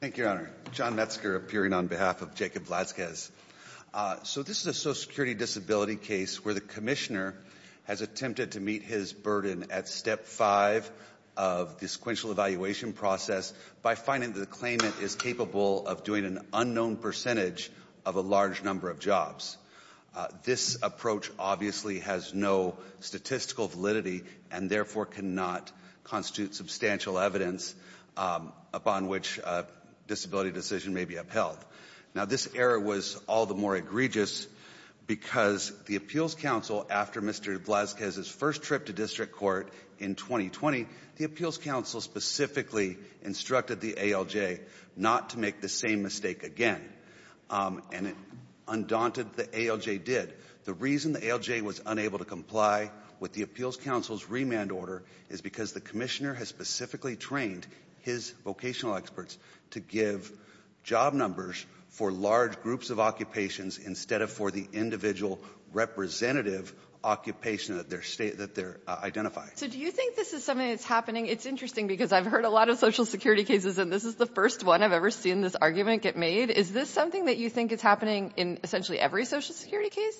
Thank you, Your Honor. John Metzger appearing on behalf of Jacob Vlazquez. So this is a social security disability case where the commissioner has attempted to meet his burden at step 5 of the sequential evaluation process by finding that the claimant is capable of doing an unknown percentage of a large number of jobs. This approach obviously has no statistical validity and therefore cannot constitute substantial evidence upon which a disability decision may be upheld. Now this error was all the more egregious because the appeals council, after Mr. Vlazquez's first trip to district court in 2020, the appeals council specifically instructed the ALJ not to make the same mistake again. And it undaunted the ALJ did. The reason the ALJ was unable to comply with the appeals council's remand order is because the commissioner has specifically trained his vocational experts to give job numbers for large groups of occupations instead of for the individual representative occupation that they're identifying. So do you think this is something that's happening? It's interesting because I've heard a lot of social security cases and this is the first one I've ever seen this argument get made. Is this something that you think is happening in essentially every social security case?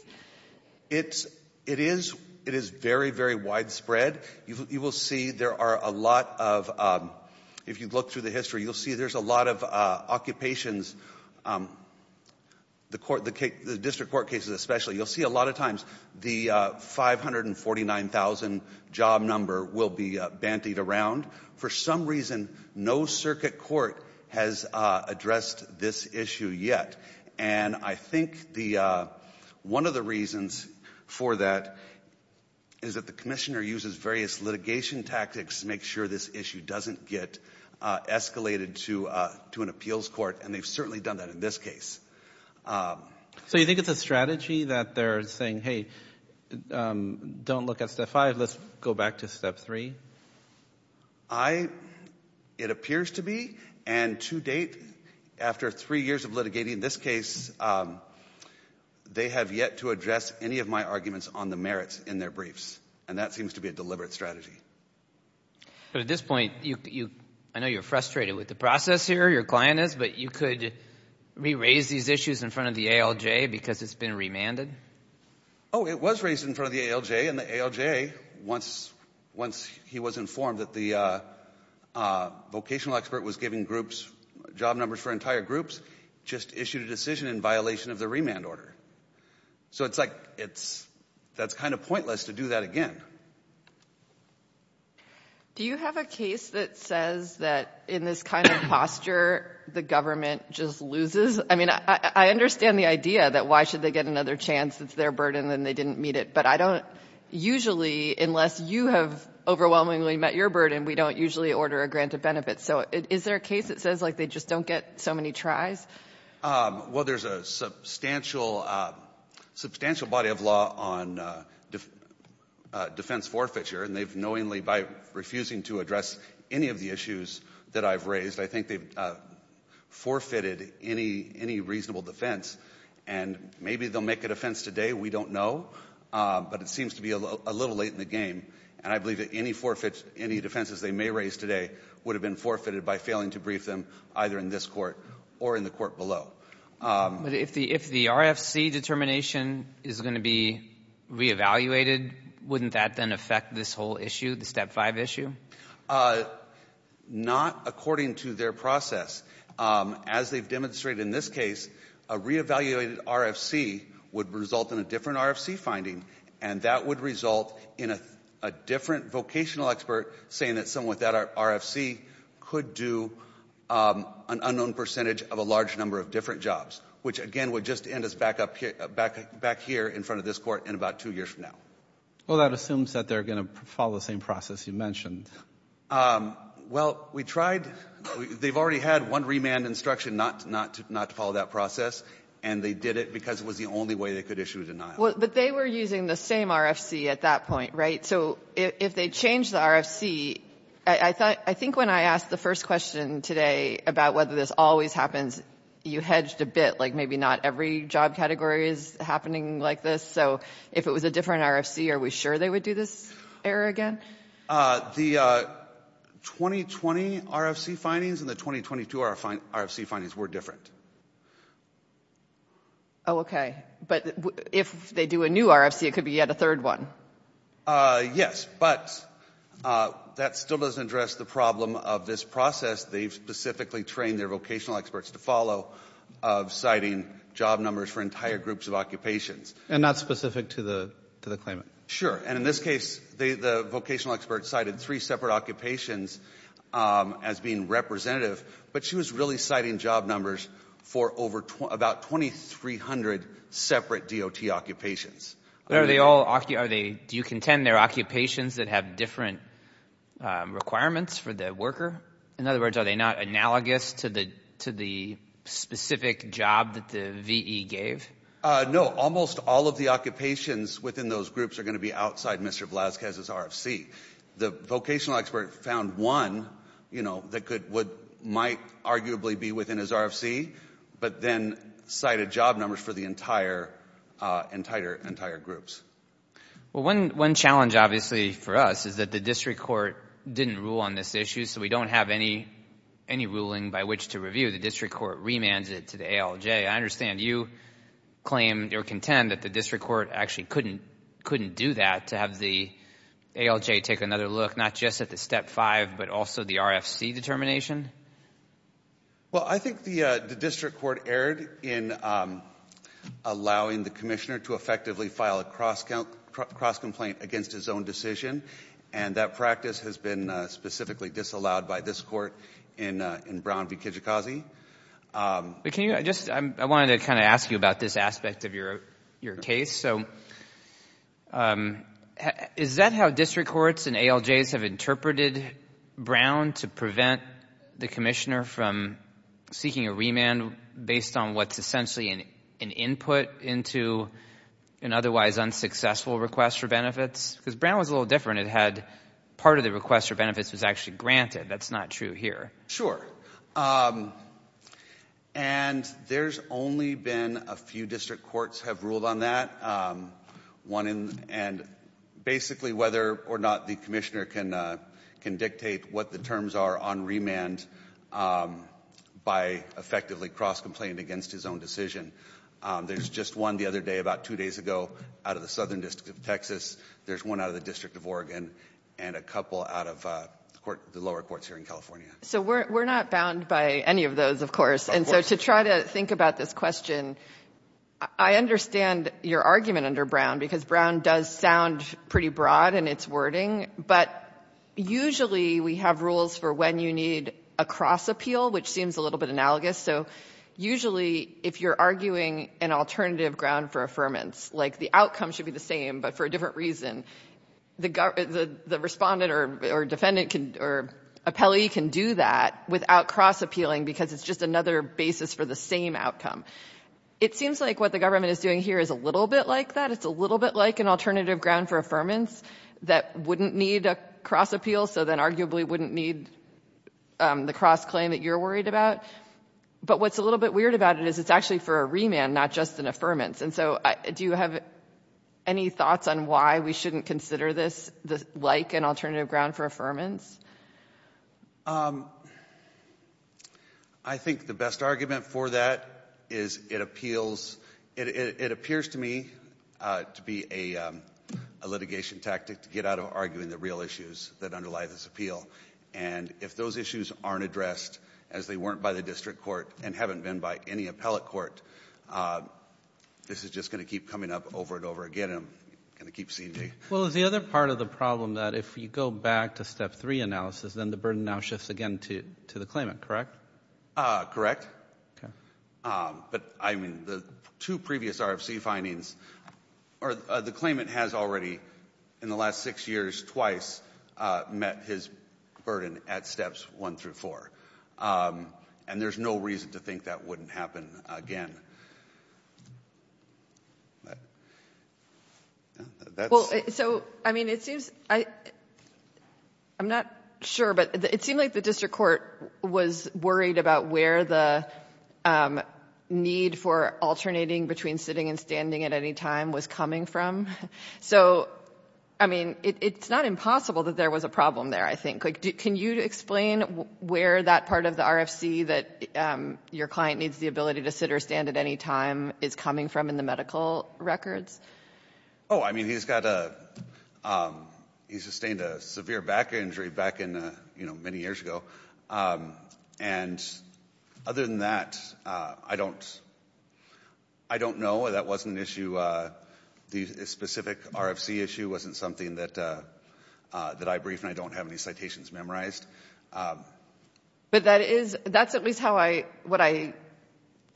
It's, it is, it is very, very widespread. You will see there are a lot of, if you look through the history, you'll see there's a lot of occupations. The district court cases especially, you'll see a lot of times the 549,000 job number will be bantied around. For some reason, no circuit court has addressed this issue yet. And I think one of the reasons for that is that the commissioner uses various litigation tactics to make sure this issue doesn't get escalated to an appeals court. And they've certainly done that in this case. So you think it's a strategy that they're saying, hey, don't look at step five, let's go back to step three? I, it appears to be, and to date, after three years of litigating this case, they have yet to address any of my arguments on the merits in their briefs. And that seems to be a deliberate strategy. But at this point, you, I know you're frustrated with the process here, your client is, but you could re-raise these issues in front of the ALJ because it's been remanded? Oh, it was raised in front of the ALJ, and the ALJ, once, once he was informed that the vocational expert was giving groups job numbers for entire groups, just issued a decision in violation of the remand order. So it's like, it's, that's kind of pointless to do that again. Do you have a case that says that in this kind of posture, the government just loses? I mean, I understand the idea that why should they get another chance? It's their burden, and they didn't meet it. But I don't, usually, unless you have overwhelmingly met your burden, we don't usually order a grant of benefits. So is there a case that says, like, they just don't get so many tries? Well, there's a substantial, substantial body of law on defense forfeiture, and they've knowingly, by refusing to address any of the issues that I've raised, I think they've forfeited any, any reasonable defense. And maybe they'll make a defense today, we don't know. But it seems to be a little late in the game. And I believe that any forfeits, any defenses they may raise today would have been forfeited by failing to brief them either in this court or in the court below. But if the, if the RFC determination is going to be reevaluated, wouldn't that then affect this whole issue, the Step 5 issue? Not according to their process. As they've demonstrated in this case, a reevaluated RFC would result in a different RFC finding, and that would result in a different vocational expert saying that someone with that RFC could do an unknown percentage of a large number of different jobs, which, again, would just end us back up here, back here in front of this Court in about two years from now. Well, that assumes that they're going to follow the same process you mentioned. Well, we tried. They've already had one remand instruction not to follow that process, and they did it because it was the only way they could issue a denial. Well, but they were using the same RFC at that point, right? So if they changed the RFC, I thought, I think when I asked the first question today about whether this always happens, you hedged a bit, like maybe not every job category is happening like this. So if it was a different RFC, are we sure they would do this error again? The 2020 RFC findings and the 2022 RFC findings were different. Oh, okay. But if they do a new RFC, it could be yet a third one. Yes, but that still doesn't address the problem of this process they've specifically trained their vocational experts to follow of citing job numbers for entire groups of occupations. And not specific to the claimant? Sure. And in this case, the vocational experts cited three separate occupations as being representative, but she was really citing job numbers for about 2,300 separate DOT occupations. Do you contend they're occupations that have different requirements for the worker? In other words, are they not analogous to the specific job that the VE gave? No. Almost all of the occupations within those groups are going to be outside Mr. Velazquez's RFC. The vocational expert found one that might arguably be within his RFC, but then cited job numbers for the entire groups. Well, one challenge obviously for us is that the district court didn't rule on this issue, so we don't have any ruling by which to review. The district court remands it to the ALJ. I understand you claim or contend that the district court actually couldn't do that to have the ALJ take another look, not just at the Step 5, but also the RFC determination? Well, I think the district court erred in allowing the commissioner to effectively file a cross-complaint against his own decision, and that practice has been specifically disallowed by this court in Brown v. Kijikazi. I wanted to kind of ask you about this aspect of your case. So is that how district courts and ALJs have interpreted Brown to prevent the commissioner from seeking a remand based on what's essentially an input into an otherwise unsuccessful request for benefits? Because Brown was a little different. It had part of the request for benefits was actually granted. That's not true here. Sure. And there's only been a few district courts have ruled on that, one in the end. Basically, whether or not the commissioner can dictate what the terms are on remand by effectively cross-complaint against his own decision. There's just one the other day, about two days ago, out of the Southern District of Texas. There's one out of the District of Oregon and a couple out of the lower courts here in California. So we're not bound by any of those, of course. Of course. And so to try to think about this question, I understand your argument under Brown because Brown does sound pretty broad in its wording, but usually we have rules for when you need a cross-appeal, which seems a little bit analogous. So usually if you're arguing an alternative ground for affirmance, like the outcome should be the same but for a different reason, the Respondent or Defendant or Appellee can do that without cross-appealing because it's just another basis for the same outcome. It seems like what the government is doing here is a little bit like that. It's a little bit like an alternative ground for affirmance that wouldn't need a cross-appeal, so then arguably wouldn't need the cross-claim that you're worried about. But what's a little bit weird about it is it's actually for a remand, not just an affirmance. And so do you have any thoughts on why we shouldn't consider this like an alternative ground for affirmance? I think the best argument for that is it appeals — it appears to me to be a litigation tactic to get out of arguing the real issues that underlie this appeal. And if those issues aren't addressed as they weren't by the district court and haven't been by any appellate court, this is just going to keep coming up over and over again, and I'm going to keep ceding. Well, is the other part of the problem that if you go back to Step 3 analysis, then the burden now shifts again to the claimant, correct? Correct. Okay. But, I mean, the two previous RFC findings — or the claimant has already, in the last six years, twice met his burden at Steps 1 through 4, and there's no reason to think that wouldn't happen again. Well, so, I mean, it seems — I'm not sure, but it seemed like the district court was worried about where the need for alternating between sitting and standing at any time was coming from. So, I mean, it's not impossible that there was a problem there, I think. Can you explain where that part of the RFC that your client needs the ability to sit or stand at any time is coming from in the medical records? Oh, I mean, he's got a — he sustained a severe back injury back in, you know, many years ago, and other than that, I don't — I don't know. That wasn't an issue — the specific RFC issue wasn't something that I briefed and I don't have any citations memorized. But that is — that's at least how I — what I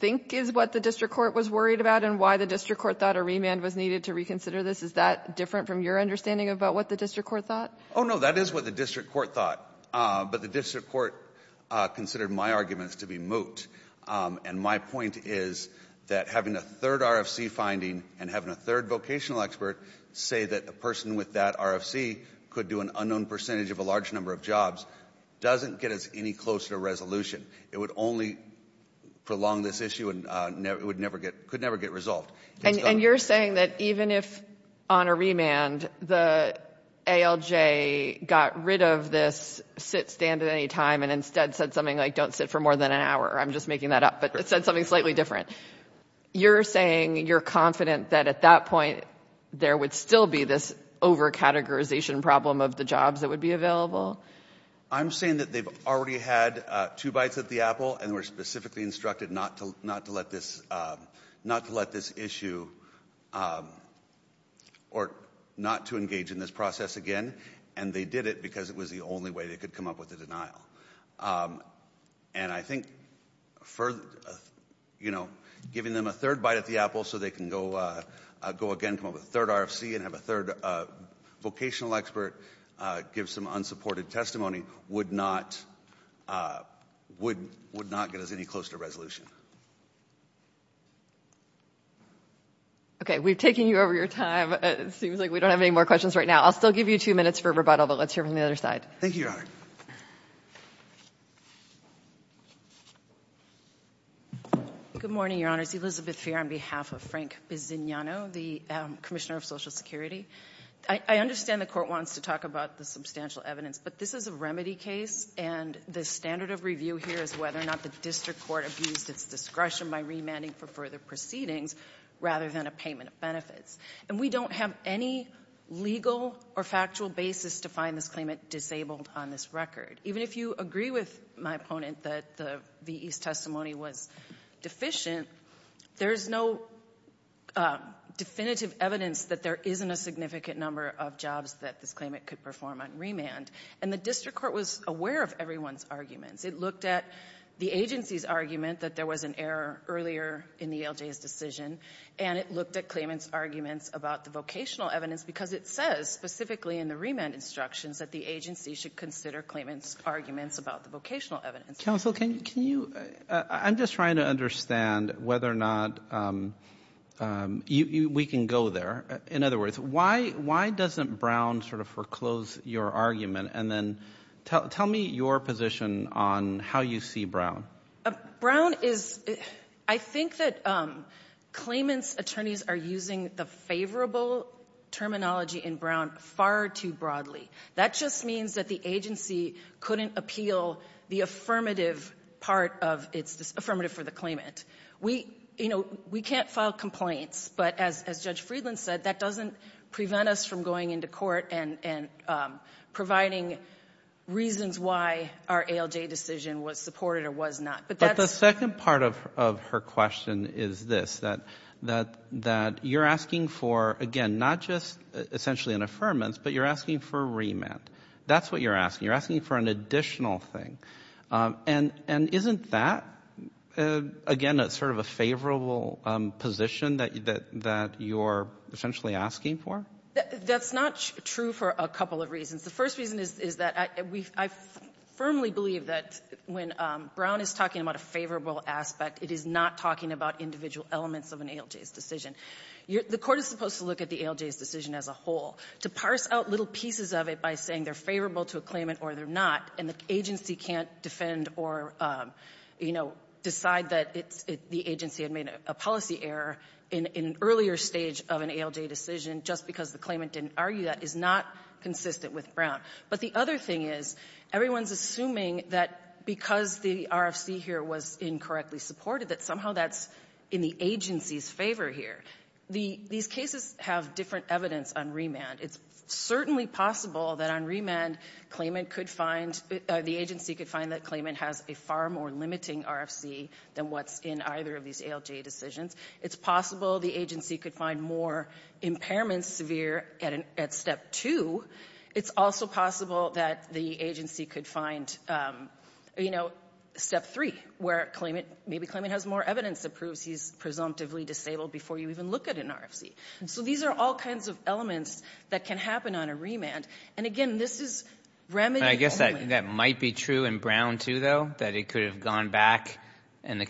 think is what the district court was worried about and why the district court thought a remand was needed to reconsider this. Is that different from your understanding about what the district court thought? Oh, no, that is what the district court thought, but the district court considered my arguments to be moot, and my point is that having a third RFC finding and having a third vocational expert say that the person with that RFC could do an unknown percentage of a large number of jobs doesn't get us any closer to resolution. It would only prolong this issue and it would never get — could never get resolved. And you're saying that even if, on a remand, the ALJ got rid of this sit, stand at any time and instead said something like, don't sit for more than an hour — I'm just making that up — but said something slightly different, you're saying you're confident that at that point there would still be this over-categorization problem of the jobs that would be available? I'm saying that they've already had two bites at the apple and were specifically instructed not to let this — not to let this issue or not to engage in this process again, and they did it because it was the only way they could come up with a denial. And I think for, you know, giving them a third bite at the apple so they can go again, come up with a third RFC and have a third vocational expert give some unsupported testimony would not — would not get us any closer to resolution. Okay. We've taken you over your time. It seems like we don't have any more questions right now. I'll still give you two minutes for rebuttal, but let's hear from the other side. Thank you, Your Honor. Good morning, Your Honors. Elizabeth Feer on behalf of Frank Bisignano, the commissioner of Social Security. I understand the court wants to talk about the substantial evidence, but this is a remedy case and the standard of review here is whether or not the district court abused its discretion by remanding for further proceedings rather than a payment of benefits. And we don't have any legal or factual basis to find this claimant disabled on this record. Even if you agree with my opponent that the V.E.'s testimony was deficient, there's no definitive evidence that there isn't a significant number of jobs that this claimant could perform on remand. And the district court was aware of everyone's arguments. It looked at the agency's argument that there was an error earlier in the ELJ's decision, and it looked at claimant's arguments about the vocational evidence because it says specifically in the remand instructions that the agency should consider claimant's arguments about the vocational evidence. Counsel, can you – I'm just trying to understand whether or not we can go there. In other words, why doesn't Brown sort of foreclose your argument? And then tell me your position on how you see Brown. Brown is – I think that claimant's attorneys are using the favorable terminology in Brown far too broadly. That just means that the agency couldn't appeal the affirmative part of its affirmative for the claimant. We – you know, we can't file complaints, but as Judge Friedland said, that doesn't prevent us from going into court and providing reasons why our ELJ decision was supported or was not. But that's – But the second part of her question is this, that you're asking for, again, not just essentially an affirmance, but you're asking for a remand. That's what you're asking. You're asking for an additional thing. And isn't that, again, sort of a favorable position that you're essentially asking for? That's not true for a couple of reasons. The first reason is that I firmly believe that when Brown is talking about a favorable aspect, it is not talking about individual elements of an ELJ's decision. You're – the Court is supposed to look at the ELJ's decision as a whole, to parse out little pieces of it by saying they're favorable to a claimant or they're not, and the agency can't defend or, you know, decide that it's – the agency had made a policy error in an earlier stage of an ELJ decision just because the claimant didn't argue that is not consistent with Brown. But the other thing is, everyone's assuming that because the RFC here was incorrectly supported that somehow that's in the agency's favor here. These cases have different evidence on remand. It's certainly possible that on remand, claimant could find – the agency could find that claimant has a far more limiting RFC than what's in either of these ELJ decisions. It's possible the agency could find more impairments severe at step two. It's also possible that the agency could find, you know, step three, where claimant – maybe claimant has more evidence that proves he's presumptively disabled before you even look at an RFC. So these are all kinds of elements that can happen on a remand. And again, this is remedy only. I guess that might be true in Brown too, though, that it could have gone back and the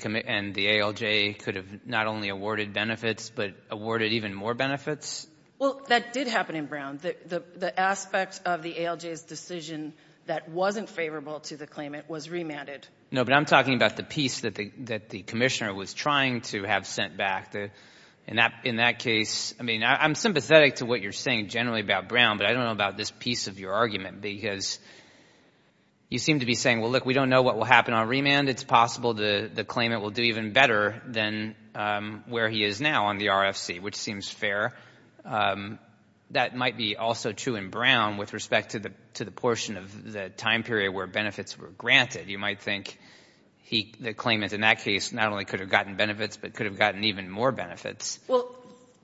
ALJ could have not only awarded benefits but awarded even more benefits? Well, that did happen in Brown. The aspect of the ALJ's decision that wasn't favorable to the claimant was remanded. No, but I'm talking about the piece that the commissioner was trying to have sent back. In that case – I mean, I'm sympathetic to what you're saying generally about Brown, but I don't know about this piece of your argument because you seem to be saying, well, look, we don't know what will happen on remand. It's possible the claimant will do even better than where he is now on the RFC, which seems fair. That might be also true in Brown with respect to the portion of the time period where benefits were granted. You might think the claimant in that case not only could have gotten benefits but could have gotten even more benefits. Well,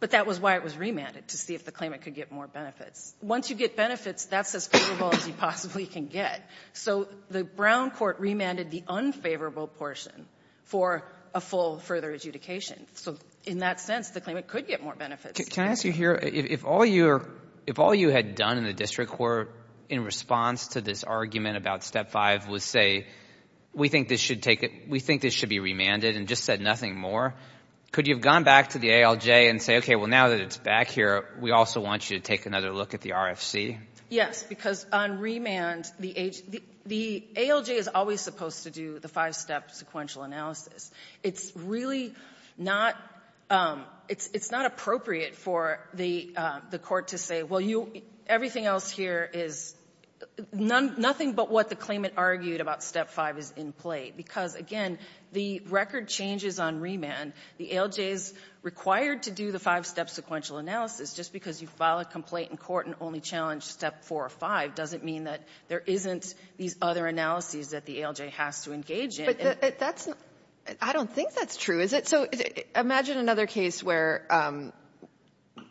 but that was why it was remanded, to see if the claimant could get more benefits. Once you get benefits, that's as favorable as you possibly can get. So the Brown court remanded the unfavorable portion for a full further adjudication. So in that sense, the claimant could get more benefits. Can I ask you here, if all you had done in the district court in response to this argument about Step 5 was say, we think this should be remanded and just said nothing more, could you have gone back to the ALJ and say, okay, well, now that it's back here, we also want you to take another look at the RFC? Yes, because on remand, the ALJ is always supposed to do the five-step sequential analysis. It's really not – it's not appropriate for the court to say, well, you – everything else here is nothing but what the claimant argued about Step 5 is in play, because, again, the record changes on remand. The ALJ is required to do the five-step sequential analysis. Just because you file a complaint in court and only challenge Step 4 or 5 doesn't mean that there isn't these other analyses that the ALJ has to engage in. But that's – I don't think that's true, is it? So imagine another case where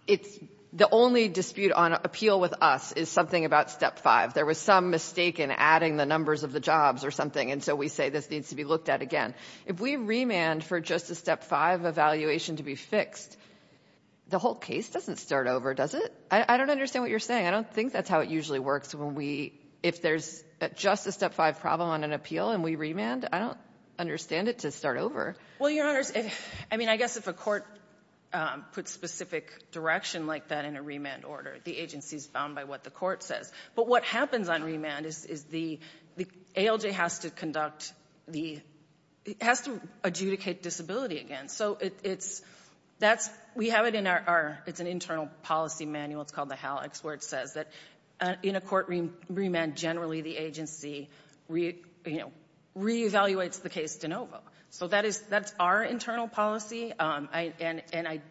it's – the only dispute on appeal with us is something about Step 5. There was some mistake in adding the numbers of the jobs or something, and so we say this needs to be looked at again. If we remand for just a Step 5 evaluation to be fixed, the whole case doesn't start over, does it? I don't understand what you're saying. I don't think that's how it usually works when we – if there's just a Step 5 problem on an appeal and we remand, I don't understand it to start over. Well, Your Honors, I mean, I guess if a court puts specific direction like that in a remand order, the agency is bound by what the court says. But what happens on remand is the – the ALJ has to conduct the – it has to adjudicate disability again. So it's – that's – we have it in our – it's an internal policy manual. It's called the HALEX, where it says that in a court remand, generally the agency reevaluates the case de novo. So that is – that's our internal policy, and I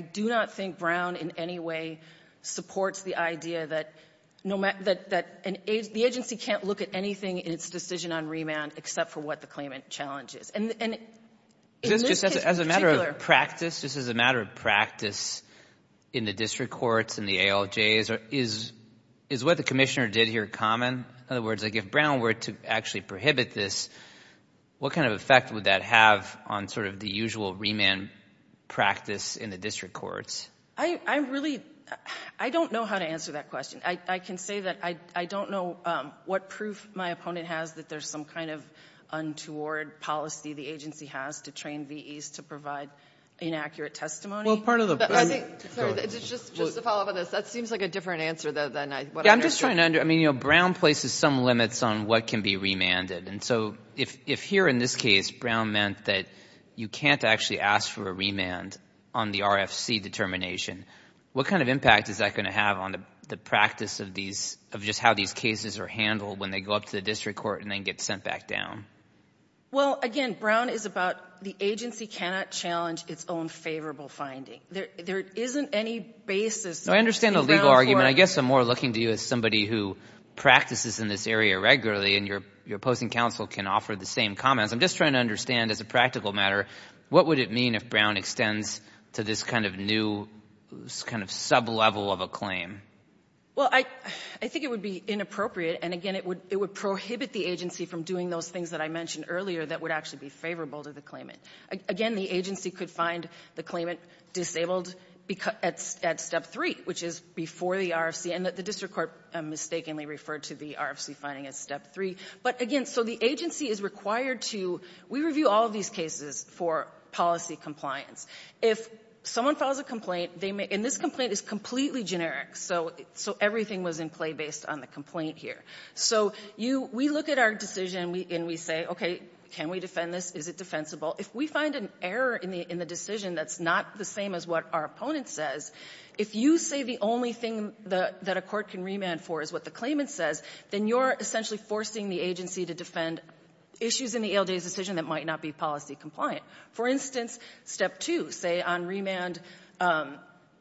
do not think Brown in any way supports the idea that – that the agency can't look at anything in its decision on remand except for what the claimant challenges. And in this case in particular – Just as a matter of practice, just as a matter of practice in the district courts, in the ALJs, is what the Commissioner did here common? In other words, like if Brown were to actually prohibit this, what kind of effect would that have on sort of the usual remand practice in the district courts? I'm really – I don't know how to answer that question. I can say that I don't know what proof my opponent has that there's some kind of untoward policy the agency has to train VEs to provide inaccurate testimony. Well, part of the – I think – sorry, just to follow up on this, that seems like a different answer than I – Yeah, I'm just trying to – I mean, Brown places some limits on what can be remanded. And so if here in this case Brown meant that you can't actually ask for a remand on the RFC determination, what kind of impact is that going to have on the practice of these – of just how these cases are handled when they go up to the district court and then get sent back down? Well, again, Brown is about the agency cannot challenge its own favorable finding. There isn't any basis in Brown for – because somebody who practices in this area regularly and your opposing counsel can offer the same comments. I'm just trying to understand as a practical matter, what would it mean if Brown extends to this kind of new – this kind of sublevel of a claim? Well, I think it would be inappropriate. And, again, it would prohibit the agency from doing those things that I mentioned earlier that would actually be favorable to the claimant. Again, the agency could find the claimant disabled at step three, which is before the RFC and the district court mistakenly referred to the RFC finding as step three. But, again, so the agency is required to – we review all of these cases for policy compliance. If someone files a complaint, they may – and this complaint is completely generic, so everything was in play based on the complaint here. So you – we look at our decision and we say, okay, can we defend this? Is it defensible? If we find an error in the decision that's not the same as what our opponent says, if you say the only thing that a court can remand for is what the claimant says, then you're essentially forcing the agency to defend issues in the ALJ's decision that might not be policy compliant. For instance, step two, say on remand,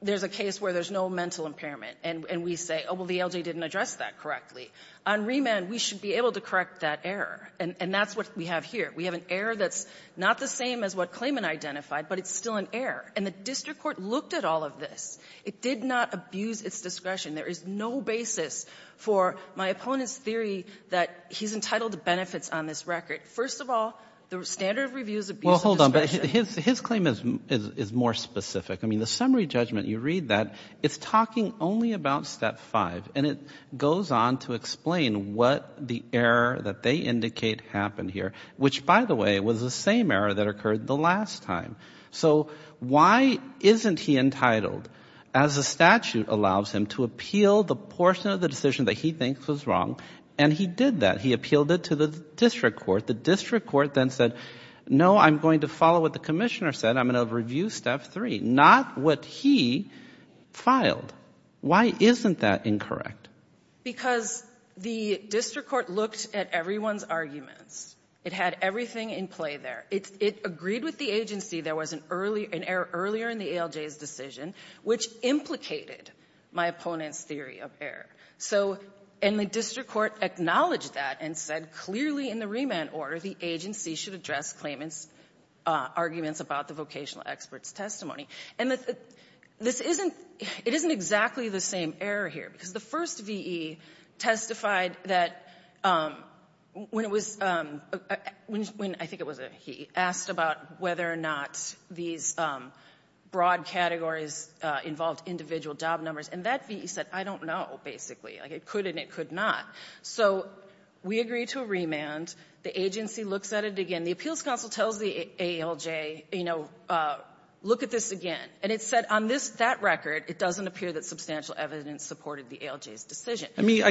there's a case where there's no mental impairment, and we say, oh, well, the ALJ didn't address that correctly. On remand, we should be able to correct that error, and that's what we have here. We have an error that's not the same as what claimant identified, but it's still an error, and the district court looked at all of this. It did not abuse its discretion. There is no basis for my opponent's theory that he's entitled to benefits on this record. First of all, the standard of review is abuse of discretion. Well, hold on. But his claim is more specific. I mean, the summary judgment, you read that, it's talking only about step five, and it goes on to explain what the error that they indicate happened here, which, by the way, was the same error that occurred the last time. So why isn't he entitled, as the statute allows him, to appeal the portion of the decision that he thinks was wrong? And he did that. He appealed it to the district court. The district court then said, no, I'm going to follow what the commissioner said. I'm going to review step three. Not what he filed. Why isn't that incorrect? Because the district court looked at everyone's arguments. It had everything in play there. It agreed with the agency there was an error earlier in the ALJ's decision, which implicated my opponent's theory of error. So the district court acknowledged that and said clearly in the remand order, the agency should address claimant's arguments about the vocational expert's testimony. And this isn't the same error here, because the first V.E. testified that when it was a he, asked about whether or not these broad categories involved individual job numbers. And that V.E. said, I don't know, basically. Like, it could and it could not. So we agree to a remand. The agency looks at it again. The appeals counsel tells the ALJ, you know, look at this again. And it said on that record, it doesn't appear that substantial evidence supported the ALJ's decision. It comes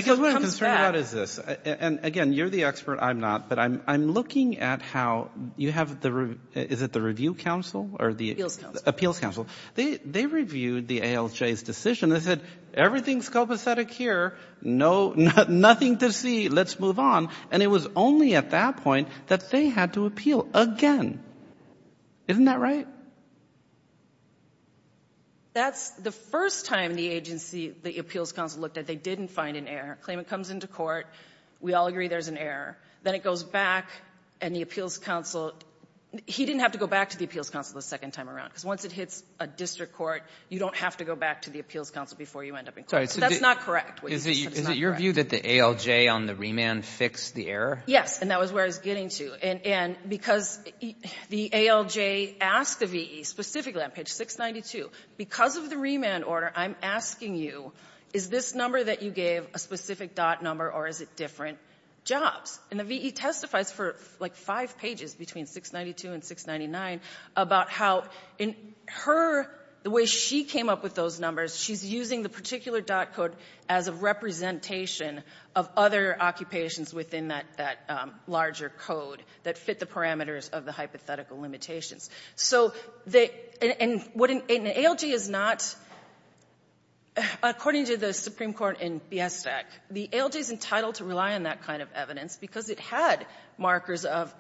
back. So what is this? And, again, you're the expert. I'm not. But I'm looking at how you have the review. Is it the review council? Appeals council. They reviewed the ALJ's decision. They said, everything's copacetic here. Nothing to see. Let's move on. And it was only at that point that they had to appeal again. Isn't that right? That's the first time the agency, the appeals council, looked at. They didn't find an error. They claim it comes into court. We all agree there's an error. Then it goes back, and the appeals council, he didn't have to go back to the appeals council the second time around. Because once it hits a district court, you don't have to go back to the appeals council before you end up in court. So that's not correct. What you just said is not correct. Is it your view that the ALJ on the remand fixed the error? Yes. And that was where I was getting to. And because the ALJ asked the V.E. specifically on page 692, because of the remand order, I'm asking you, is this number that you gave a specific DOT number, or is it different jobs? And the V.E. testifies for like five pages between 692 and 699 about how in her, the way she came up with those numbers, she's using the particular DOT code as a representation of other occupations within that larger code that fit the parameters of the hypothetical limitations. And the ALJ is not, according to the Supreme Court in B.S. stack, the ALJ is entitled to rely on that kind of evidence, because it had markers of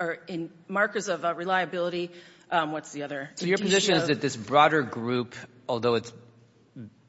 reliability. What's the other? So your position is that this broader group, although it's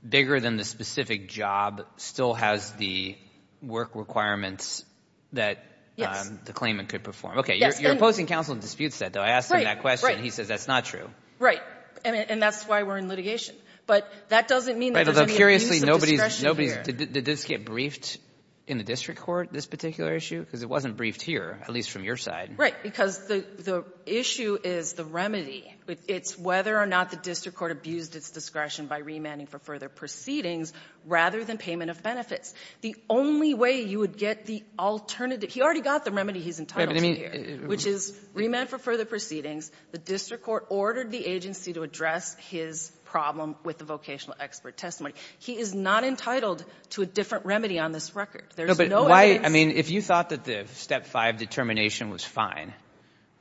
bigger than the specific job, still has the work requirements that the claimant could perform. Yes. Okay. You're opposing counsel in dispute, though. I asked him that question. And he says that's not true. Right. And that's why we're in litigation. But that doesn't mean that there's any abuse of discretion here. Although, curiously, nobody's — did this get briefed in the district court, this particular issue? Because it wasn't briefed here, at least from your side. Right. Because the issue is the remedy. It's whether or not the district court abused its discretion by remanding for further proceedings, rather than payment of benefits. The only way you would get the alternative — he already got the remedy he's entitled to here, which is remand for further proceedings. The district court ordered the agency to address his problem with the vocational expert testimony. He is not entitled to a different remedy on this record. There's no evidence. No, but why — I mean, if you thought that the Step 5 determination was fine,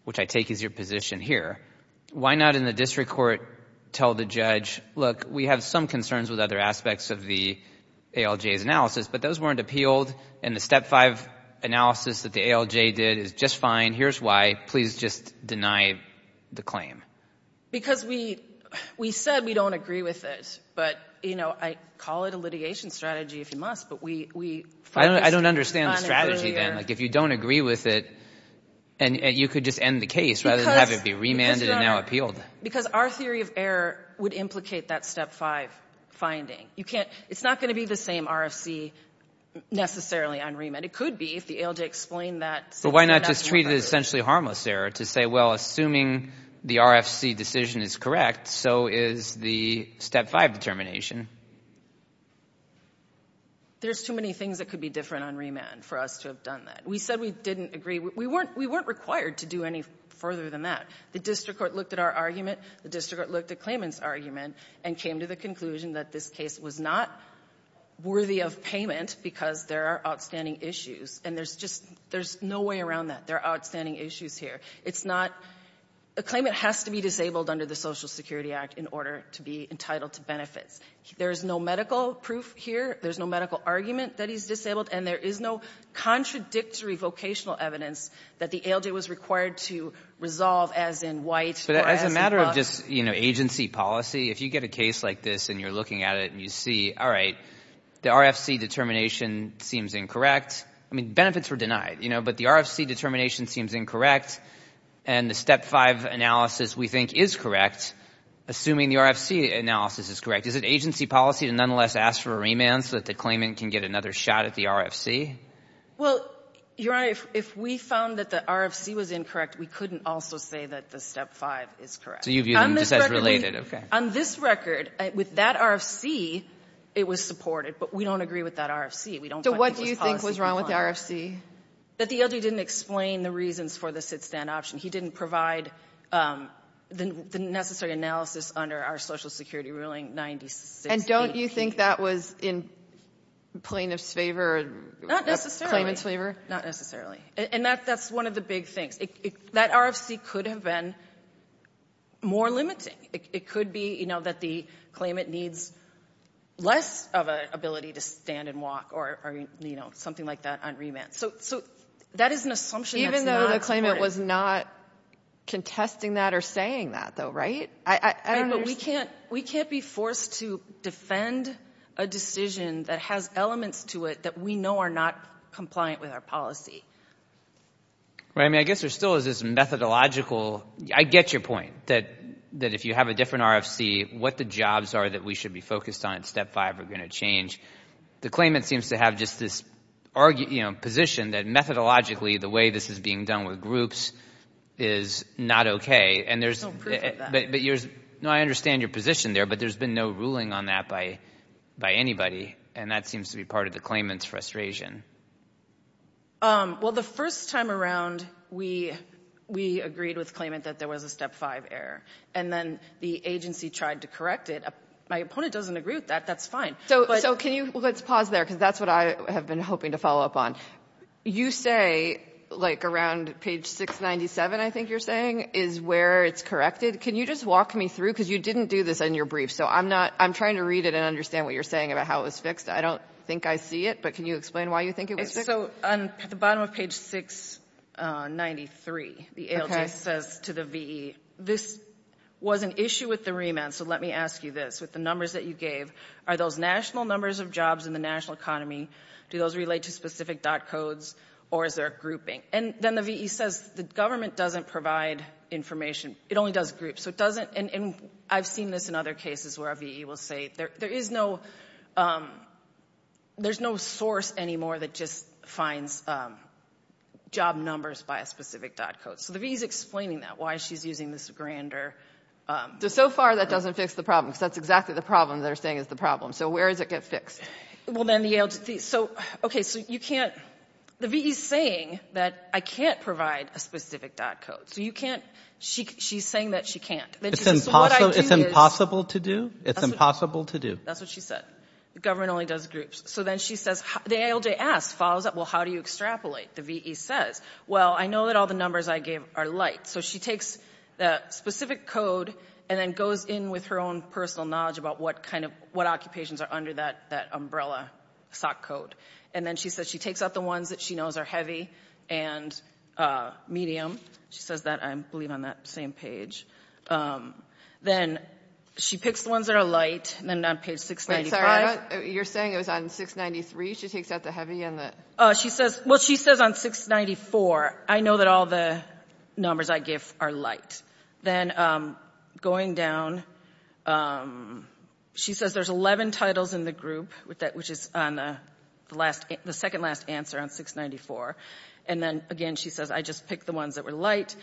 which I take as your position here, why not in the district court tell the judge, look, we have some concerns with other aspects of the ALJ's analysis, but those weren't appealed, and the Step 5 analysis that the ALJ did is just fine. Here's why. Please just deny the claim. Because we — we said we don't agree with it, but, you know, I call it a litigation strategy, if you must, but we — I don't understand the strategy, then. Like, if you don't agree with it, and you could just end the case rather than have it be remanded and now appealed. Because our theory of error would implicate that Step 5 finding. You can't — it's not going to be the same RFC necessarily on remand. It could be if the ALJ explained that — But why not just treat it as essentially harmless error to say, well, assuming the RFC decision is correct, so is the Step 5 determination. There's too many things that could be different on remand for us to have done that. We said we didn't agree. We weren't — we weren't required to do any further than that. The district court looked at our argument. The district court looked at Clayman's argument and came to the conclusion that this case was not worthy of payment because there are outstanding issues. And there's just — there's no way around that. There are outstanding issues here. It's not — a claimant has to be disabled under the Social Security Act in order to be entitled to benefits. There is no medical proof here. There's no medical argument that he's disabled, and there is no contradictory vocational evidence that the ALJ was required to resolve as in White or as in Buck. But as a matter of just, you know, agency policy, if you get a case like this and you're looking at it and you see, all right, the RFC determination seems incorrect — I mean, benefits were denied, you know, but the RFC determination seems incorrect, and the Step 5 analysis we think is correct, assuming the RFC analysis is correct, is it agency policy to nonetheless ask for a remand so that the claimant can get another shot at the RFC? Well, Your Honor, if we found that the RFC was incorrect, we couldn't also say that the Step 5 is correct. So you view them just as related. Okay. On this record, with that RFC, it was supported, but we don't agree with that RFC. We don't find it was policy defined. So what do you think was wrong with the RFC? That the ALJ didn't explain the reasons for the sit-stand option. He didn't provide the necessary analysis under our Social Security ruling 96B. And don't you think that was in plaintiff's favor? Not necessarily. Claimant's favor? Not necessarily. And that's one of the big things. That RFC could have been more limiting. It could be, you know, that the claimant needs less of an ability to stand and walk or, you know, something like that on remand. So that is an assumption that's not supported. Even though the claimant was not contesting that or saying that, though, right? But we can't be forced to defend a decision that has elements to it that we know are not compliant with our policy. Right. I mean, I guess there still is this methodological. I get your point that if you have a different RFC, what the jobs are that we should be focused on in Step 5 are going to change. The claimant seems to have just this position that methodologically, the way this is being done with groups is not okay. There's no proof of that. No, I understand your position there. But there's been no ruling on that by anybody. And that seems to be part of the claimant's frustration. Well, the first time around, we agreed with the claimant that there was a Step 5 error. And then the agency tried to correct it. My opponent doesn't agree with that. That's fine. Let's pause there because that's what I have been hoping to follow up on. You say, like around page 697, I think you're saying, is where it's corrected. Can you just walk me through because you didn't do this in your brief. So I'm trying to read it and understand what you're saying about how it was fixed. I don't think I see it, but can you explain why you think it was fixed? So at the bottom of page 693, the ALT says to the VE, this was an issue with the remand, so let me ask you this. With the numbers that you gave, are those national numbers of jobs in the national economy, do those relate to specific DOT codes, or is there a grouping? And then the VE says the government doesn't provide information. It only does groups. And I've seen this in other cases where a VE will say there is no source anymore that just finds job numbers by a specific DOT code. So the VE is explaining that, why she's using this grander. So far, that doesn't fix the problem because that's exactly the problem they're saying is the problem. So where does it get fixed? Well, then the ALT, so, okay, so you can't, the VE is saying that I can't provide a specific DOT code. So you can't, she's saying that she can't. It's impossible to do? It's impossible to do. That's what she said. The government only does groups. So then she says, the ALJ asks, follows up, well, how do you extrapolate? The VE says, well, I know that all the numbers I gave are light. So she takes the specific code and then goes in with her own personal knowledge about what kind of, what occupations are under that umbrella SOC code. And then she says she takes out the ones that she knows are heavy and medium. She says that, I believe, on that same page. Then she picks the ones that are light, and then on page 695. Wait, sorry, you're saying it was on 693 she takes out the heavy and the? She says, well, she says on 694, I know that all the numbers I give are light. Then going down, she says there's 11 titles in the group, which is on the last, the second last answer on 694. And then, again, she says, I just picked the ones that were light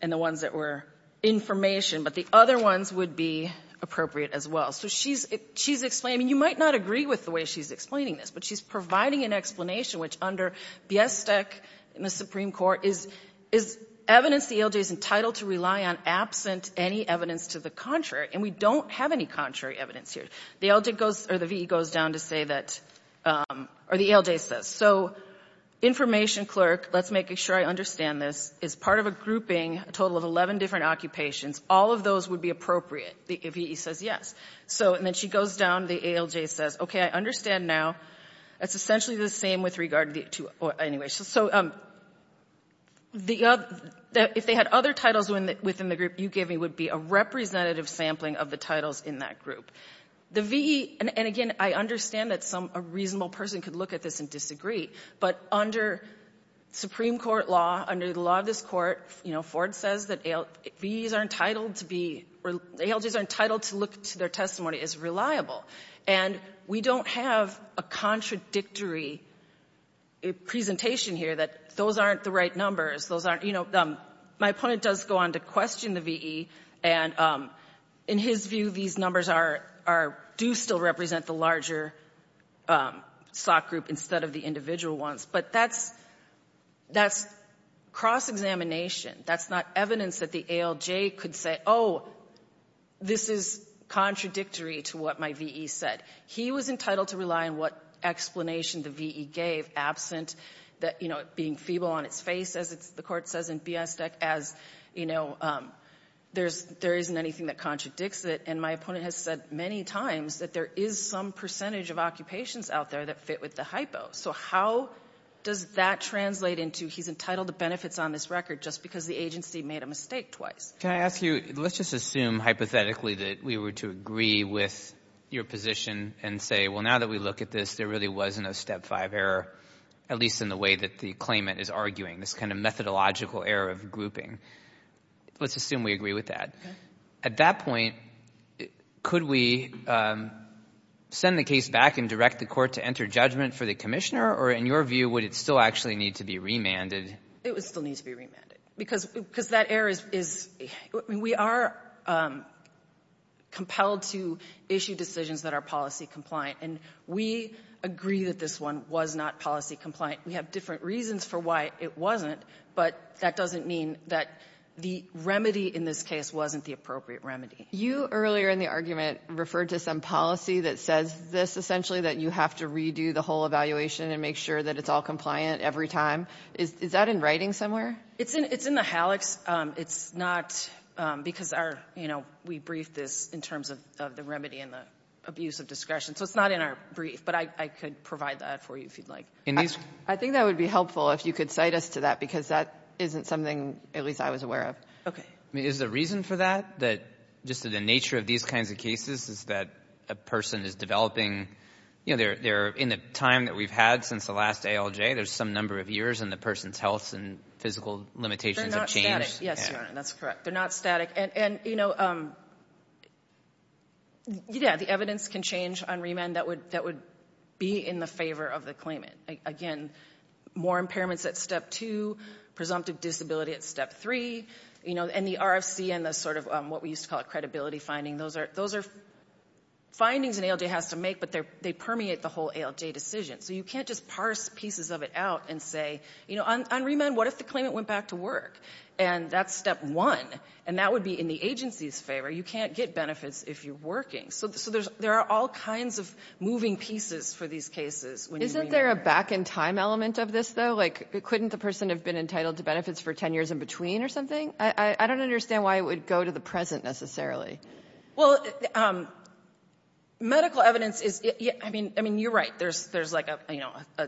and the ones that were information, but the other ones would be appropriate as well. So she's explaining, you might not agree with the way she's explaining this, but she's providing an explanation, which under BESTEC in the Supreme Court is evidence the ALJ is entitled to rely on absent any evidence to the contrary. And we don't have any contrary evidence here. The ALJ goes, or the V.E. goes down to say that, or the ALJ says, so information clerk, let's make sure I understand this, is part of a grouping, a total of 11 different occupations. All of those would be appropriate. The V.E. says yes. So, and then she goes down, the ALJ says, okay, I understand now. That's essentially the same with regard to, anyway. So the, if they had other titles within the group you gave me would be a representative sampling of the titles in that group. The V.E., and again, I understand that some, a reasonable person could look at this and disagree, but under Supreme Court law, under the law of this court, you know, Ford says that V.E.s are entitled to be, or ALJs are entitled to look to their testimony as reliable. And we don't have a contradictory presentation here that those aren't the right numbers. Those aren't, you know, my opponent does go on to question the V.E., and in his view these numbers are, do still represent the larger SOC group instead of the individual ones. But that's, that's cross-examination. That's not evidence that the ALJ could say, oh, this is contradictory to what my V.E. said. He was entitled to rely on what explanation the V.E. gave, absent that, you know, it being feeble on its face, as the court says in B.S. DEC as, you know, there isn't anything that contradicts it. And my opponent has said many times that there is some percentage of occupations out there that fit with the hypo. So how does that translate into he's entitled to benefits on this record just because the agency made a mistake twice? Can I ask you, let's just assume hypothetically that we were to agree with your position and say, well, now that we look at this, there really wasn't a step five error, at least in the way that the claimant is arguing, this kind of methodological error of grouping. Let's assume we agree with that. At that point, could we send the case back and direct the court to enter judgment for the commissioner? Or in your view, would it still actually need to be remanded? It would still need to be remanded. Because that error is we are compelled to issue decisions that are policy compliant. And we agree that this one was not policy compliant. We have different reasons for why it wasn't, but that doesn't mean that the remedy in this case wasn't the appropriate remedy. You earlier in the argument referred to some policy that says this, essentially, that you have to redo the whole evaluation and make sure that it's all compliant every time. Is that in writing somewhere? It's in the HALEX. It's not because we briefed this in terms of the remedy and the abuse of discretion. So it's not in our brief, but I could provide that for you if you'd like. I think that would be helpful if you could cite us to that, because that isn't something at least I was aware of. Okay. I mean, is the reason for that, just the nature of these kinds of cases, is that a person is developing, you know, in the time that we've had since the last ALJ, there's some number of years, and the person's health and physical limitations have changed? Yes, Your Honor, that's correct. They're not static. And, you know, yeah, the evidence can change on remand that would be in the favor of the claimant. Again, more impairments at Step 2, presumptive disability at Step 3, you know, and the RFC and the sort of what we used to call a credibility finding, those are findings an ALJ has to make, but they permeate the whole ALJ decision. So you can't just parse pieces of it out and say, you know, on remand, what if the claimant went back to work? And that's Step 1, and that would be in the agency's favor. You can't get benefits if you're working. So there are all kinds of moving pieces for these cases when you remand. Isn't there a back-in-time element of this, though? Like, couldn't the person have been entitled to benefits for 10 years in between or something? I don't understand why it would go to the present, necessarily. Well, medical evidence is, I mean, you're right. There's like a, you know,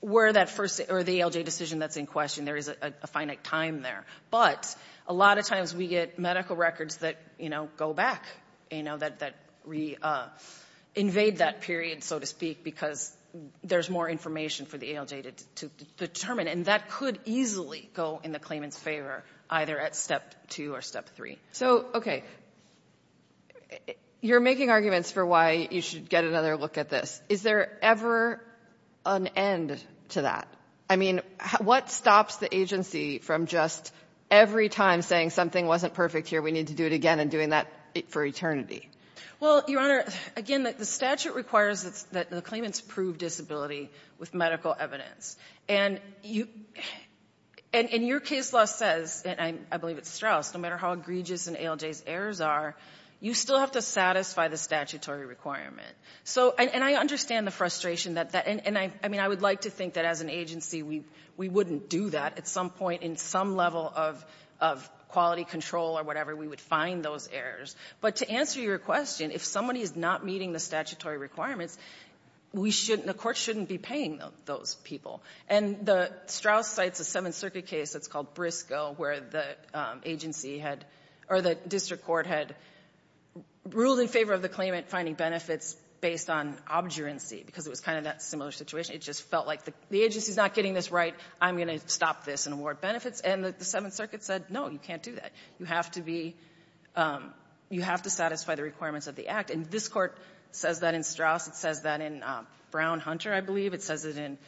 where that first or the ALJ decision that's in question, there is a finite time there. But a lot of times we get medical records that, you know, go back, you know, that re-invade that period, so to speak, because there's more information for the ALJ to determine, and that could easily go in the claimant's favor either at Step 2 or Step 3. So, okay, you're making arguments for why you should get another look at this. Is there ever an end to that? I mean, what stops the agency from just every time saying something wasn't perfect here, we need to do it again and doing that for eternity? Well, Your Honor, again, the statute requires that the claimants prove disability with medical evidence. And your case law says, and I believe it's Strauss, no matter how egregious an ALJ's errors are, you still have to satisfy the statutory requirement. So, and I understand the frustration that that, and I mean, I would like to think that as an agency, we wouldn't do that at some point in some level of quality control or whatever. We would find those errors. But to answer your question, if somebody is not meeting the statutory requirements, we shouldn't, the court shouldn't be paying those people. And Strauss cites a Seventh Circuit case that's called Briscoe where the agency had, or the district court had ruled in favor of the claimant finding benefits based on obduracy because it was kind of that similar situation. It just felt like the agency is not getting this right. I'm going to stop this and award benefits. And the Seventh Circuit said, no, you can't do that. You have to be, you have to satisfy the requirements of the Act. And this Court says that in Strauss. It says that in Brown-Hunter, I believe. It says it in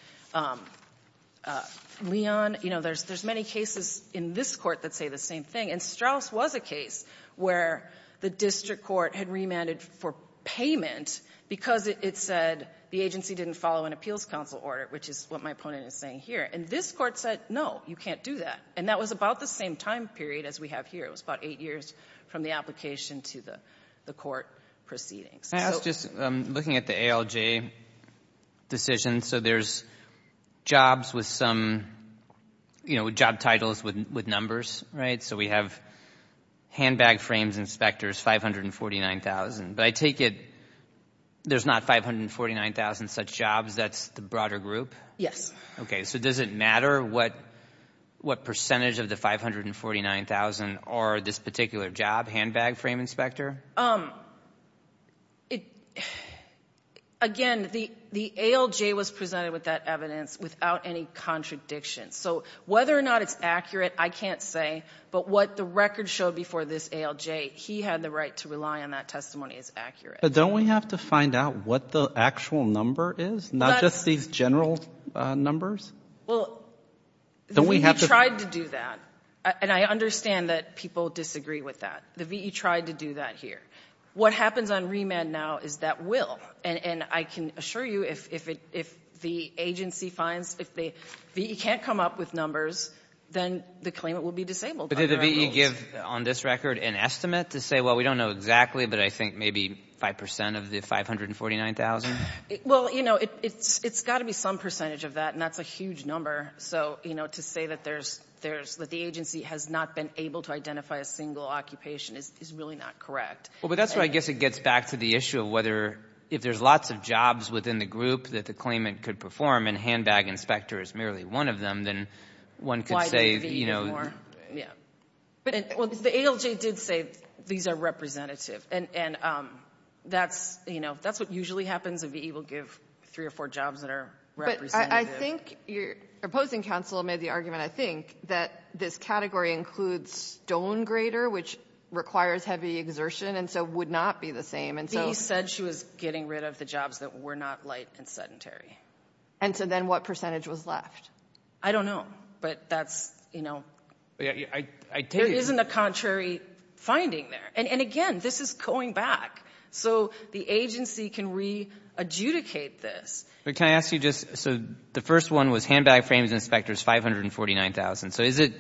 Leon. You know, there's many cases in this Court that say the same thing. And Strauss was a case where the district court had remanded for payment because it said the agency didn't follow an appeals council order, which is what my opponent is saying here. And this Court said, no, you can't do that. And that was about the same time period as we have here. It was about eight years from the application to the court proceedings. I was just looking at the ALJ decision. So there's jobs with some, you know, job titles with numbers, right? So we have handbag frames inspectors, 549,000. But I take it there's not 549,000 such jobs that's the broader group? Yes. Okay. So does it matter what percentage of the 549,000 are this particular job, handbag frame inspector? Again, the ALJ was presented with that evidence without any contradiction. So whether or not it's accurate, I can't say. But what the record showed before this ALJ, he had the right to rely on that testimony as accurate. But don't we have to find out what the actual number is, not just these general numbers? Well, we tried to do that. And I understand that people disagree with that. The V.E. tried to do that here. What happens on remand now is that will. And I can assure you if the agency finds, if the V.E. can't come up with numbers, then the claimant will be disabled. But did the V.E. give on this record an estimate to say, well, we don't know exactly, but I think maybe 5% of the 549,000? Well, you know, it's got to be some percentage of that, and that's a huge number. So, you know, to say that the agency has not been able to identify a single occupation is really not correct. Well, but that's where I guess it gets back to the issue of whether if there's lots of jobs within the group that the claimant could perform, and handbag inspector is merely one of them, then one could say, you know. Why did the V.E. give more? Yeah. Well, the ALJ did say these are representative. And that's, you know, that's what usually happens. A V.E. will give three or four jobs that are representative. But I think your opposing counsel made the argument, I think, that this category includes which requires heavy exertion and so would not be the same. V.E. said she was getting rid of the jobs that were not light and sedentary. And so then what percentage was left? I don't know. But that's, you know. There isn't a contrary finding there. And, again, this is going back. So the agency can re-adjudicate this. But can I ask you just, so the first one was handbag frames inspectors 549,000. So is it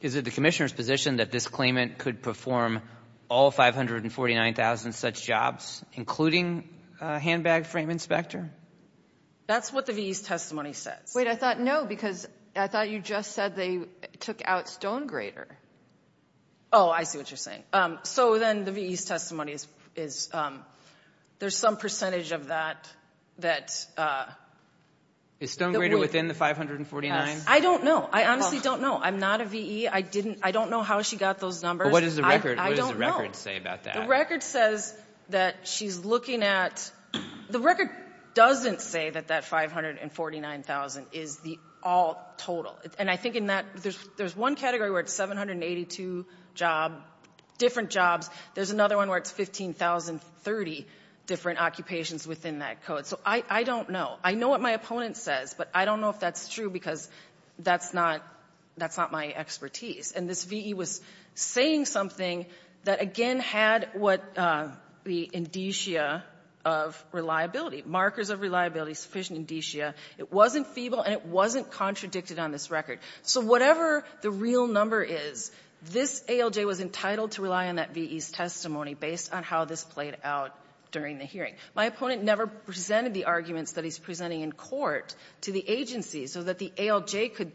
the Commissioner's position that this claimant could perform all 549,000 such jobs, including a handbag frame inspector? That's what the V.E.'s testimony says. Wait. I thought, no, because I thought you just said they took out Stonegrater. Oh, I see what you're saying. So then the V.E.'s testimony is there's some percentage of that that we — Is Stonegrater within the 549? Yes. I don't know. I honestly don't know. I'm not a V.E. I don't know how she got those numbers. But what does the record say about that? The record says that she's looking at — the record doesn't say that that 549,000 is the all total. And I think in that there's one category where it's 782 jobs, different jobs. There's another one where it's 15,030 different occupations within that code. So I don't know. I know what my opponent says, but I don't know if that's true because that's not — that's not my expertise. And this V.E. was saying something that, again, had what the indicia of reliability, markers of reliability, sufficient indicia. It wasn't feeble, and it wasn't contradicted on this record. So whatever the real number is, this ALJ was entitled to rely on that V.E.'s testimony based on how this played out during the hearing. My opponent never presented the arguments that he's presenting in court to the agency so that the ALJ could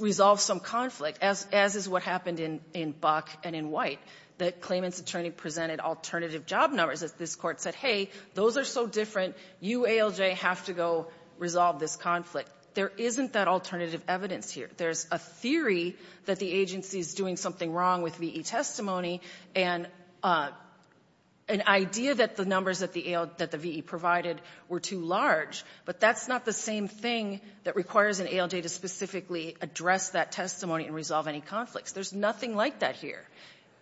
resolve some conflict, as is what happened in Buck and in White, that a claimant's attorney presented alternative job numbers. This Court said, hey, those are so different. You, ALJ, have to go resolve this conflict. There isn't that alternative evidence here. There's a theory that the agency is doing something wrong with V.E. that the V.E. provided were too large, but that's not the same thing that requires an ALJ to specifically address that testimony and resolve any conflicts. There's nothing like that here.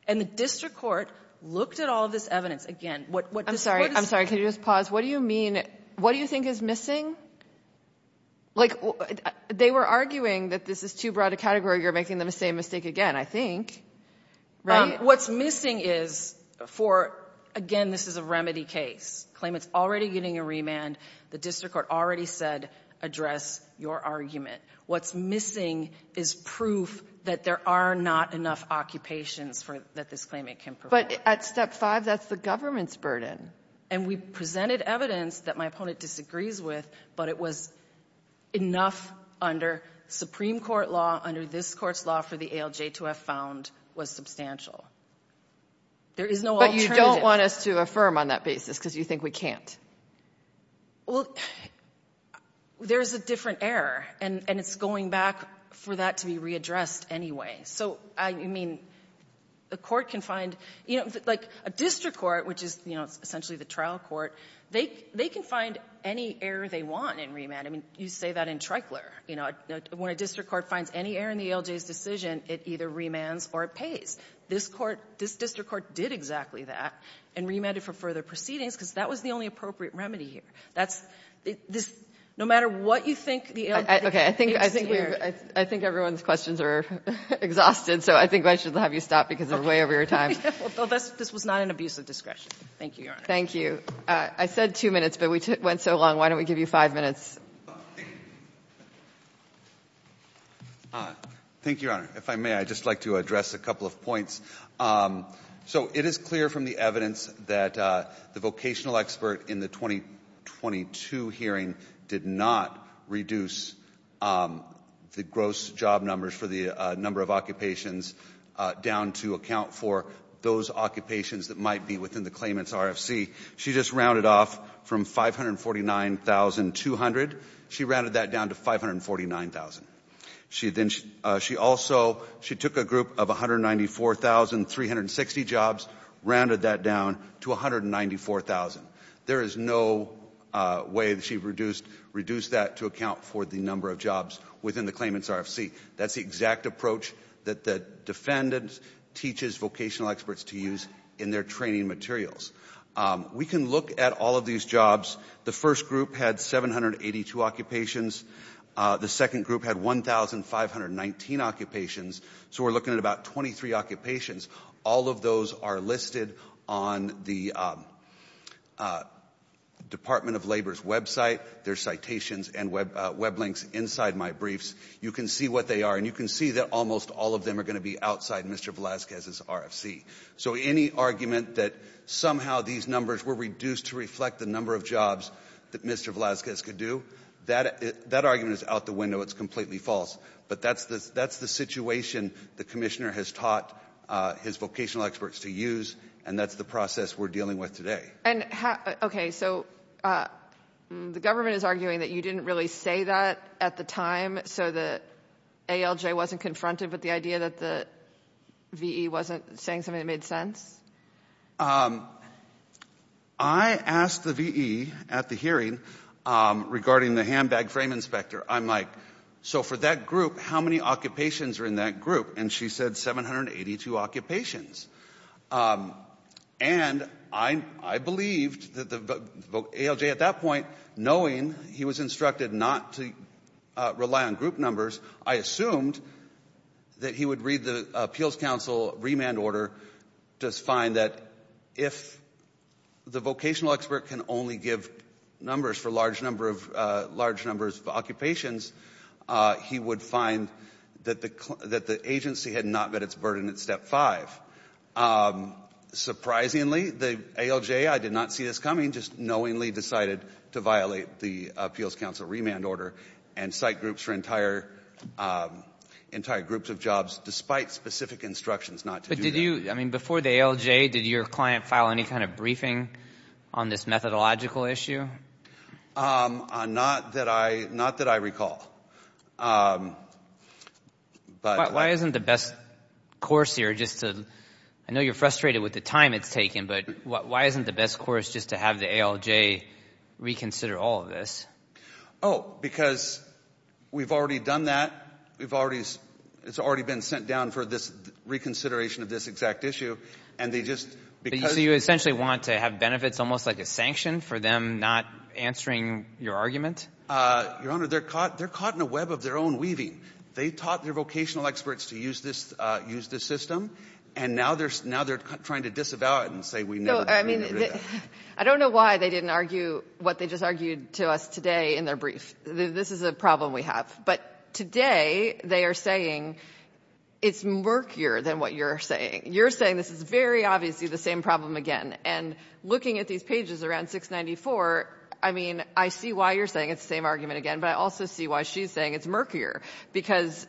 And the district court looked at all this evidence. Again, what this Court is — I'm sorry. Can you just pause? What do you mean — what do you think is missing? Like, they were arguing that this is too broad a category. You're making the same mistake again, I think. Right? What's missing is, for — again, this is a remedy case. Claimant's already getting a remand. The district court already said, address your argument. What's missing is proof that there are not enough occupations for — that this claimant can provide. But at Step 5, that's the government's burden. And we presented evidence that my opponent disagrees with, but it was enough under Supreme Court law, under this Court's law for the ALJ to have found was substantial. There is no alternative. But you don't want us to affirm on that basis because you think we can't. Well, there's a different error, and it's going back for that to be readdressed anyway. So, I mean, the court can find — you know, like, a district court, which is, you know, essentially the trial court, they can find any error they want in remand. I mean, you say that in Trikler. You know, when a district court finds any error in the ALJ's decision, it either remands or it pays. This court — this district court did exactly that and remanded for further proceedings because that was the only appropriate remedy here. That's — this — no matter what you think the ALJ — Okay. I think — I think we've — I think everyone's questions are exhausted, so I think I should have you stop because we're way over your time. Well, that's — this was not an abuse of discretion. Thank you, Your Honor. Thank you. I said two minutes, but we went so long. Why don't we give you five minutes? Thank you, Your Honor. If I may, I'd just like to address a couple of points. So it is clear from the evidence that the vocational expert in the 2022 hearing did not reduce the gross job numbers for the number of occupations down to account for those occupations that might be within the claimant's RFC. She just rounded off from 549,200. She rounded that down to 549,000. She then — she also — she took a group of 194,360 jobs, rounded that down to 194,000. There is no way that she reduced — reduced that to account for the number of jobs within the claimant's RFC. That's the exact approach that the defendant teaches vocational experts to use in their training materials. We can look at all of these jobs. The first group had 782 occupations. The second group had 1,519 occupations. So we're looking at about 23 occupations. All of those are listed on the Department of Labor's website. There's citations and web links inside my briefs. You can see what they are, and you can see that almost all of them are going to be outside Mr. Velazquez's RFC. So any argument that somehow these numbers were reduced to reflect the number of jobs that Mr. Velazquez could do, that argument is out the window. It's completely false. But that's the situation the commissioner has taught his vocational experts to use, and that's the process we're dealing with today. Okay, so the government is arguing that you didn't really say that at the time so that ALJ wasn't confronted with the idea that the V.E. wasn't saying something that made sense? I asked the V.E. at the hearing regarding the handbag frame inspector. I'm like, so for that group, how many occupations are in that group? And she said 782 occupations. And I believed that ALJ at that point, knowing he was instructed not to rely on group numbers, I assumed that he would read the appeals counsel remand order to find that if the vocational expert can only give numbers for large numbers of occupations, he would find that the agency had not met its burden at step five. Surprisingly, the ALJ, I did not see this coming, just knowingly decided to violate the appeals counsel remand order and cite groups for entire groups of jobs despite specific instructions not to do that. But did you – I mean, before the ALJ, did your client file any kind of briefing on this methodological issue? Not that I – not that I recall. But – Why isn't the best course here just to – I know you're frustrated with the time it's taken, but why isn't the best course just to have the ALJ reconsider all of this? Oh, because we've already done that. We've already – it's already been sent down for this reconsideration of this exact issue. And they just – So you essentially want to have benefits almost like a sanction for them not answering your argument? Your Honor, they're caught in a web of their own weaving. They taught their vocational experts to use this system, and now they're trying to disavow it and say we never – I don't know why they didn't argue what they just argued to us today in their brief. This is a problem we have. But today they are saying it's murkier than what you're saying. You're saying this is very obviously the same problem again. And looking at these pages around 694, I mean, I see why you're saying it's the same argument again, but I also see why she's saying it's murkier, because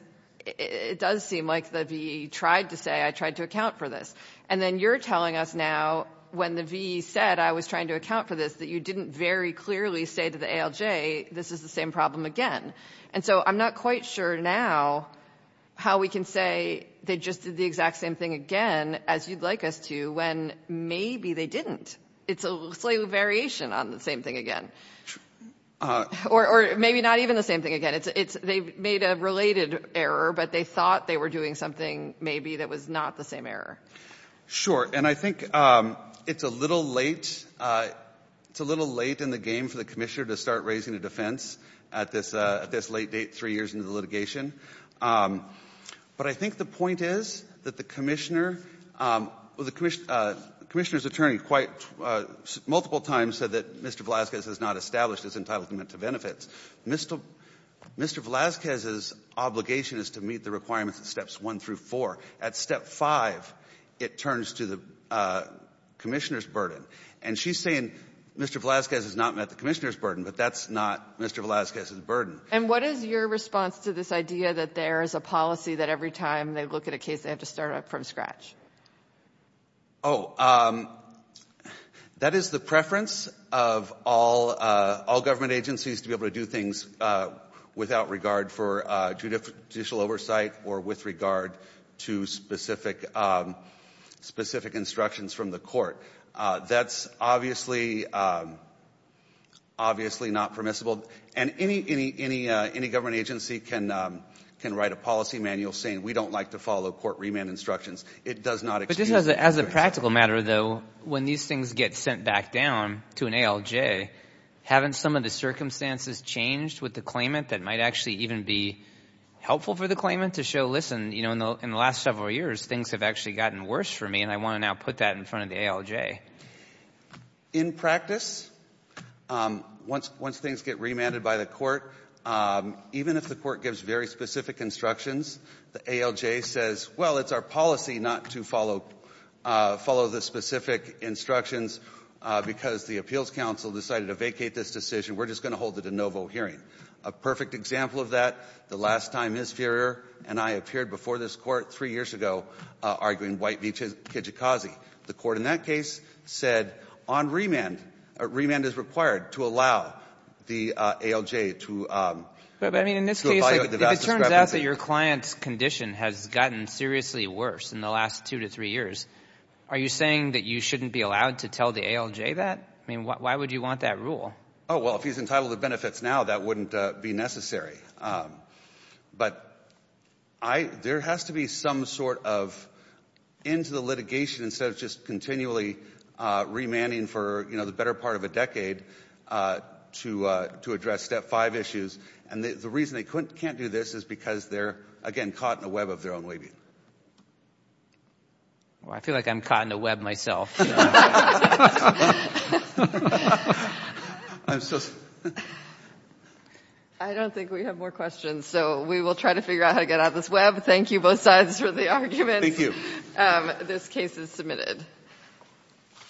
it does seem like the VE tried to say I tried to account for this. And then you're telling us now, when the VE said I was trying to account for this, that you didn't very clearly say to the ALJ this is the same problem again. And so I'm not quite sure now how we can say they just did the exact same thing again as you'd like us to when maybe they didn't. It's a slight variation on the same thing again. Or maybe not even the same thing again. They made a related error, but they thought they were doing something maybe that was not the same error. Sure. And I think it's a little late. It's a little late in the game for the commissioner to start raising a defense at this late date, three years into the litigation. But I think the point is that the commissioner or the commissioner's attorney quite multiple times said that Mr. Velazquez has not established his entitlement to benefits. Mr. Velazquez's obligation is to meet the requirements at steps one through four. At step five, it turns to the commissioner's burden. And she's saying Mr. Velazquez has not met the commissioner's burden, but that's not Mr. Velazquez's burden. And what is your response to this idea that there is a policy that every time they look at a case, they have to start up from scratch? Oh, that is the preference of all government agencies to be able to do things without regard for judicial oversight or with regard to specific instructions from the court. That's obviously not permissible. And any government agency can write a policy manual saying we don't like to follow court remand instructions. It does not excuse. But just as a practical matter, though, when these things get sent back down to an ALJ, haven't some of the circumstances changed with the claimant that might actually even be helpful for the claimant to show, listen, you know, in the last several years, things have actually gotten worse for me, and I want to now put that in front of the ALJ? In practice, once things get remanded by the court, even if the court gives very specific instructions, the ALJ says, well, it's our policy not to follow the specific instructions because the Appeals Council decided to vacate this decision. We're just going to hold it a de novo hearing. A perfect example of that, the last time Ms. Furrier and I appeared before this court three years ago arguing White v. Kijikazi, the court in that case said on remand, remand is required to allow the ALJ to violate the vast discrepancy. But, I mean, in this case, if it turns out that your client's condition has gotten seriously worse in the last two to three years, are you saying that you shouldn't be allowed to tell the ALJ that? I mean, why would you want that rule? Oh, well, if he's entitled to benefits now, that wouldn't be necessary. But there has to be some sort of end to the litigation instead of just continually remanding for the better part of a decade to address Step 5 issues. And the reason they can't do this is because they're, again, caught in a web of their own waiving. I feel like I'm caught in a web myself. I don't think we have more questions, so we will try to figure out how to get out of this web. Thank you both sides for the argument. Thank you. This case is submitted.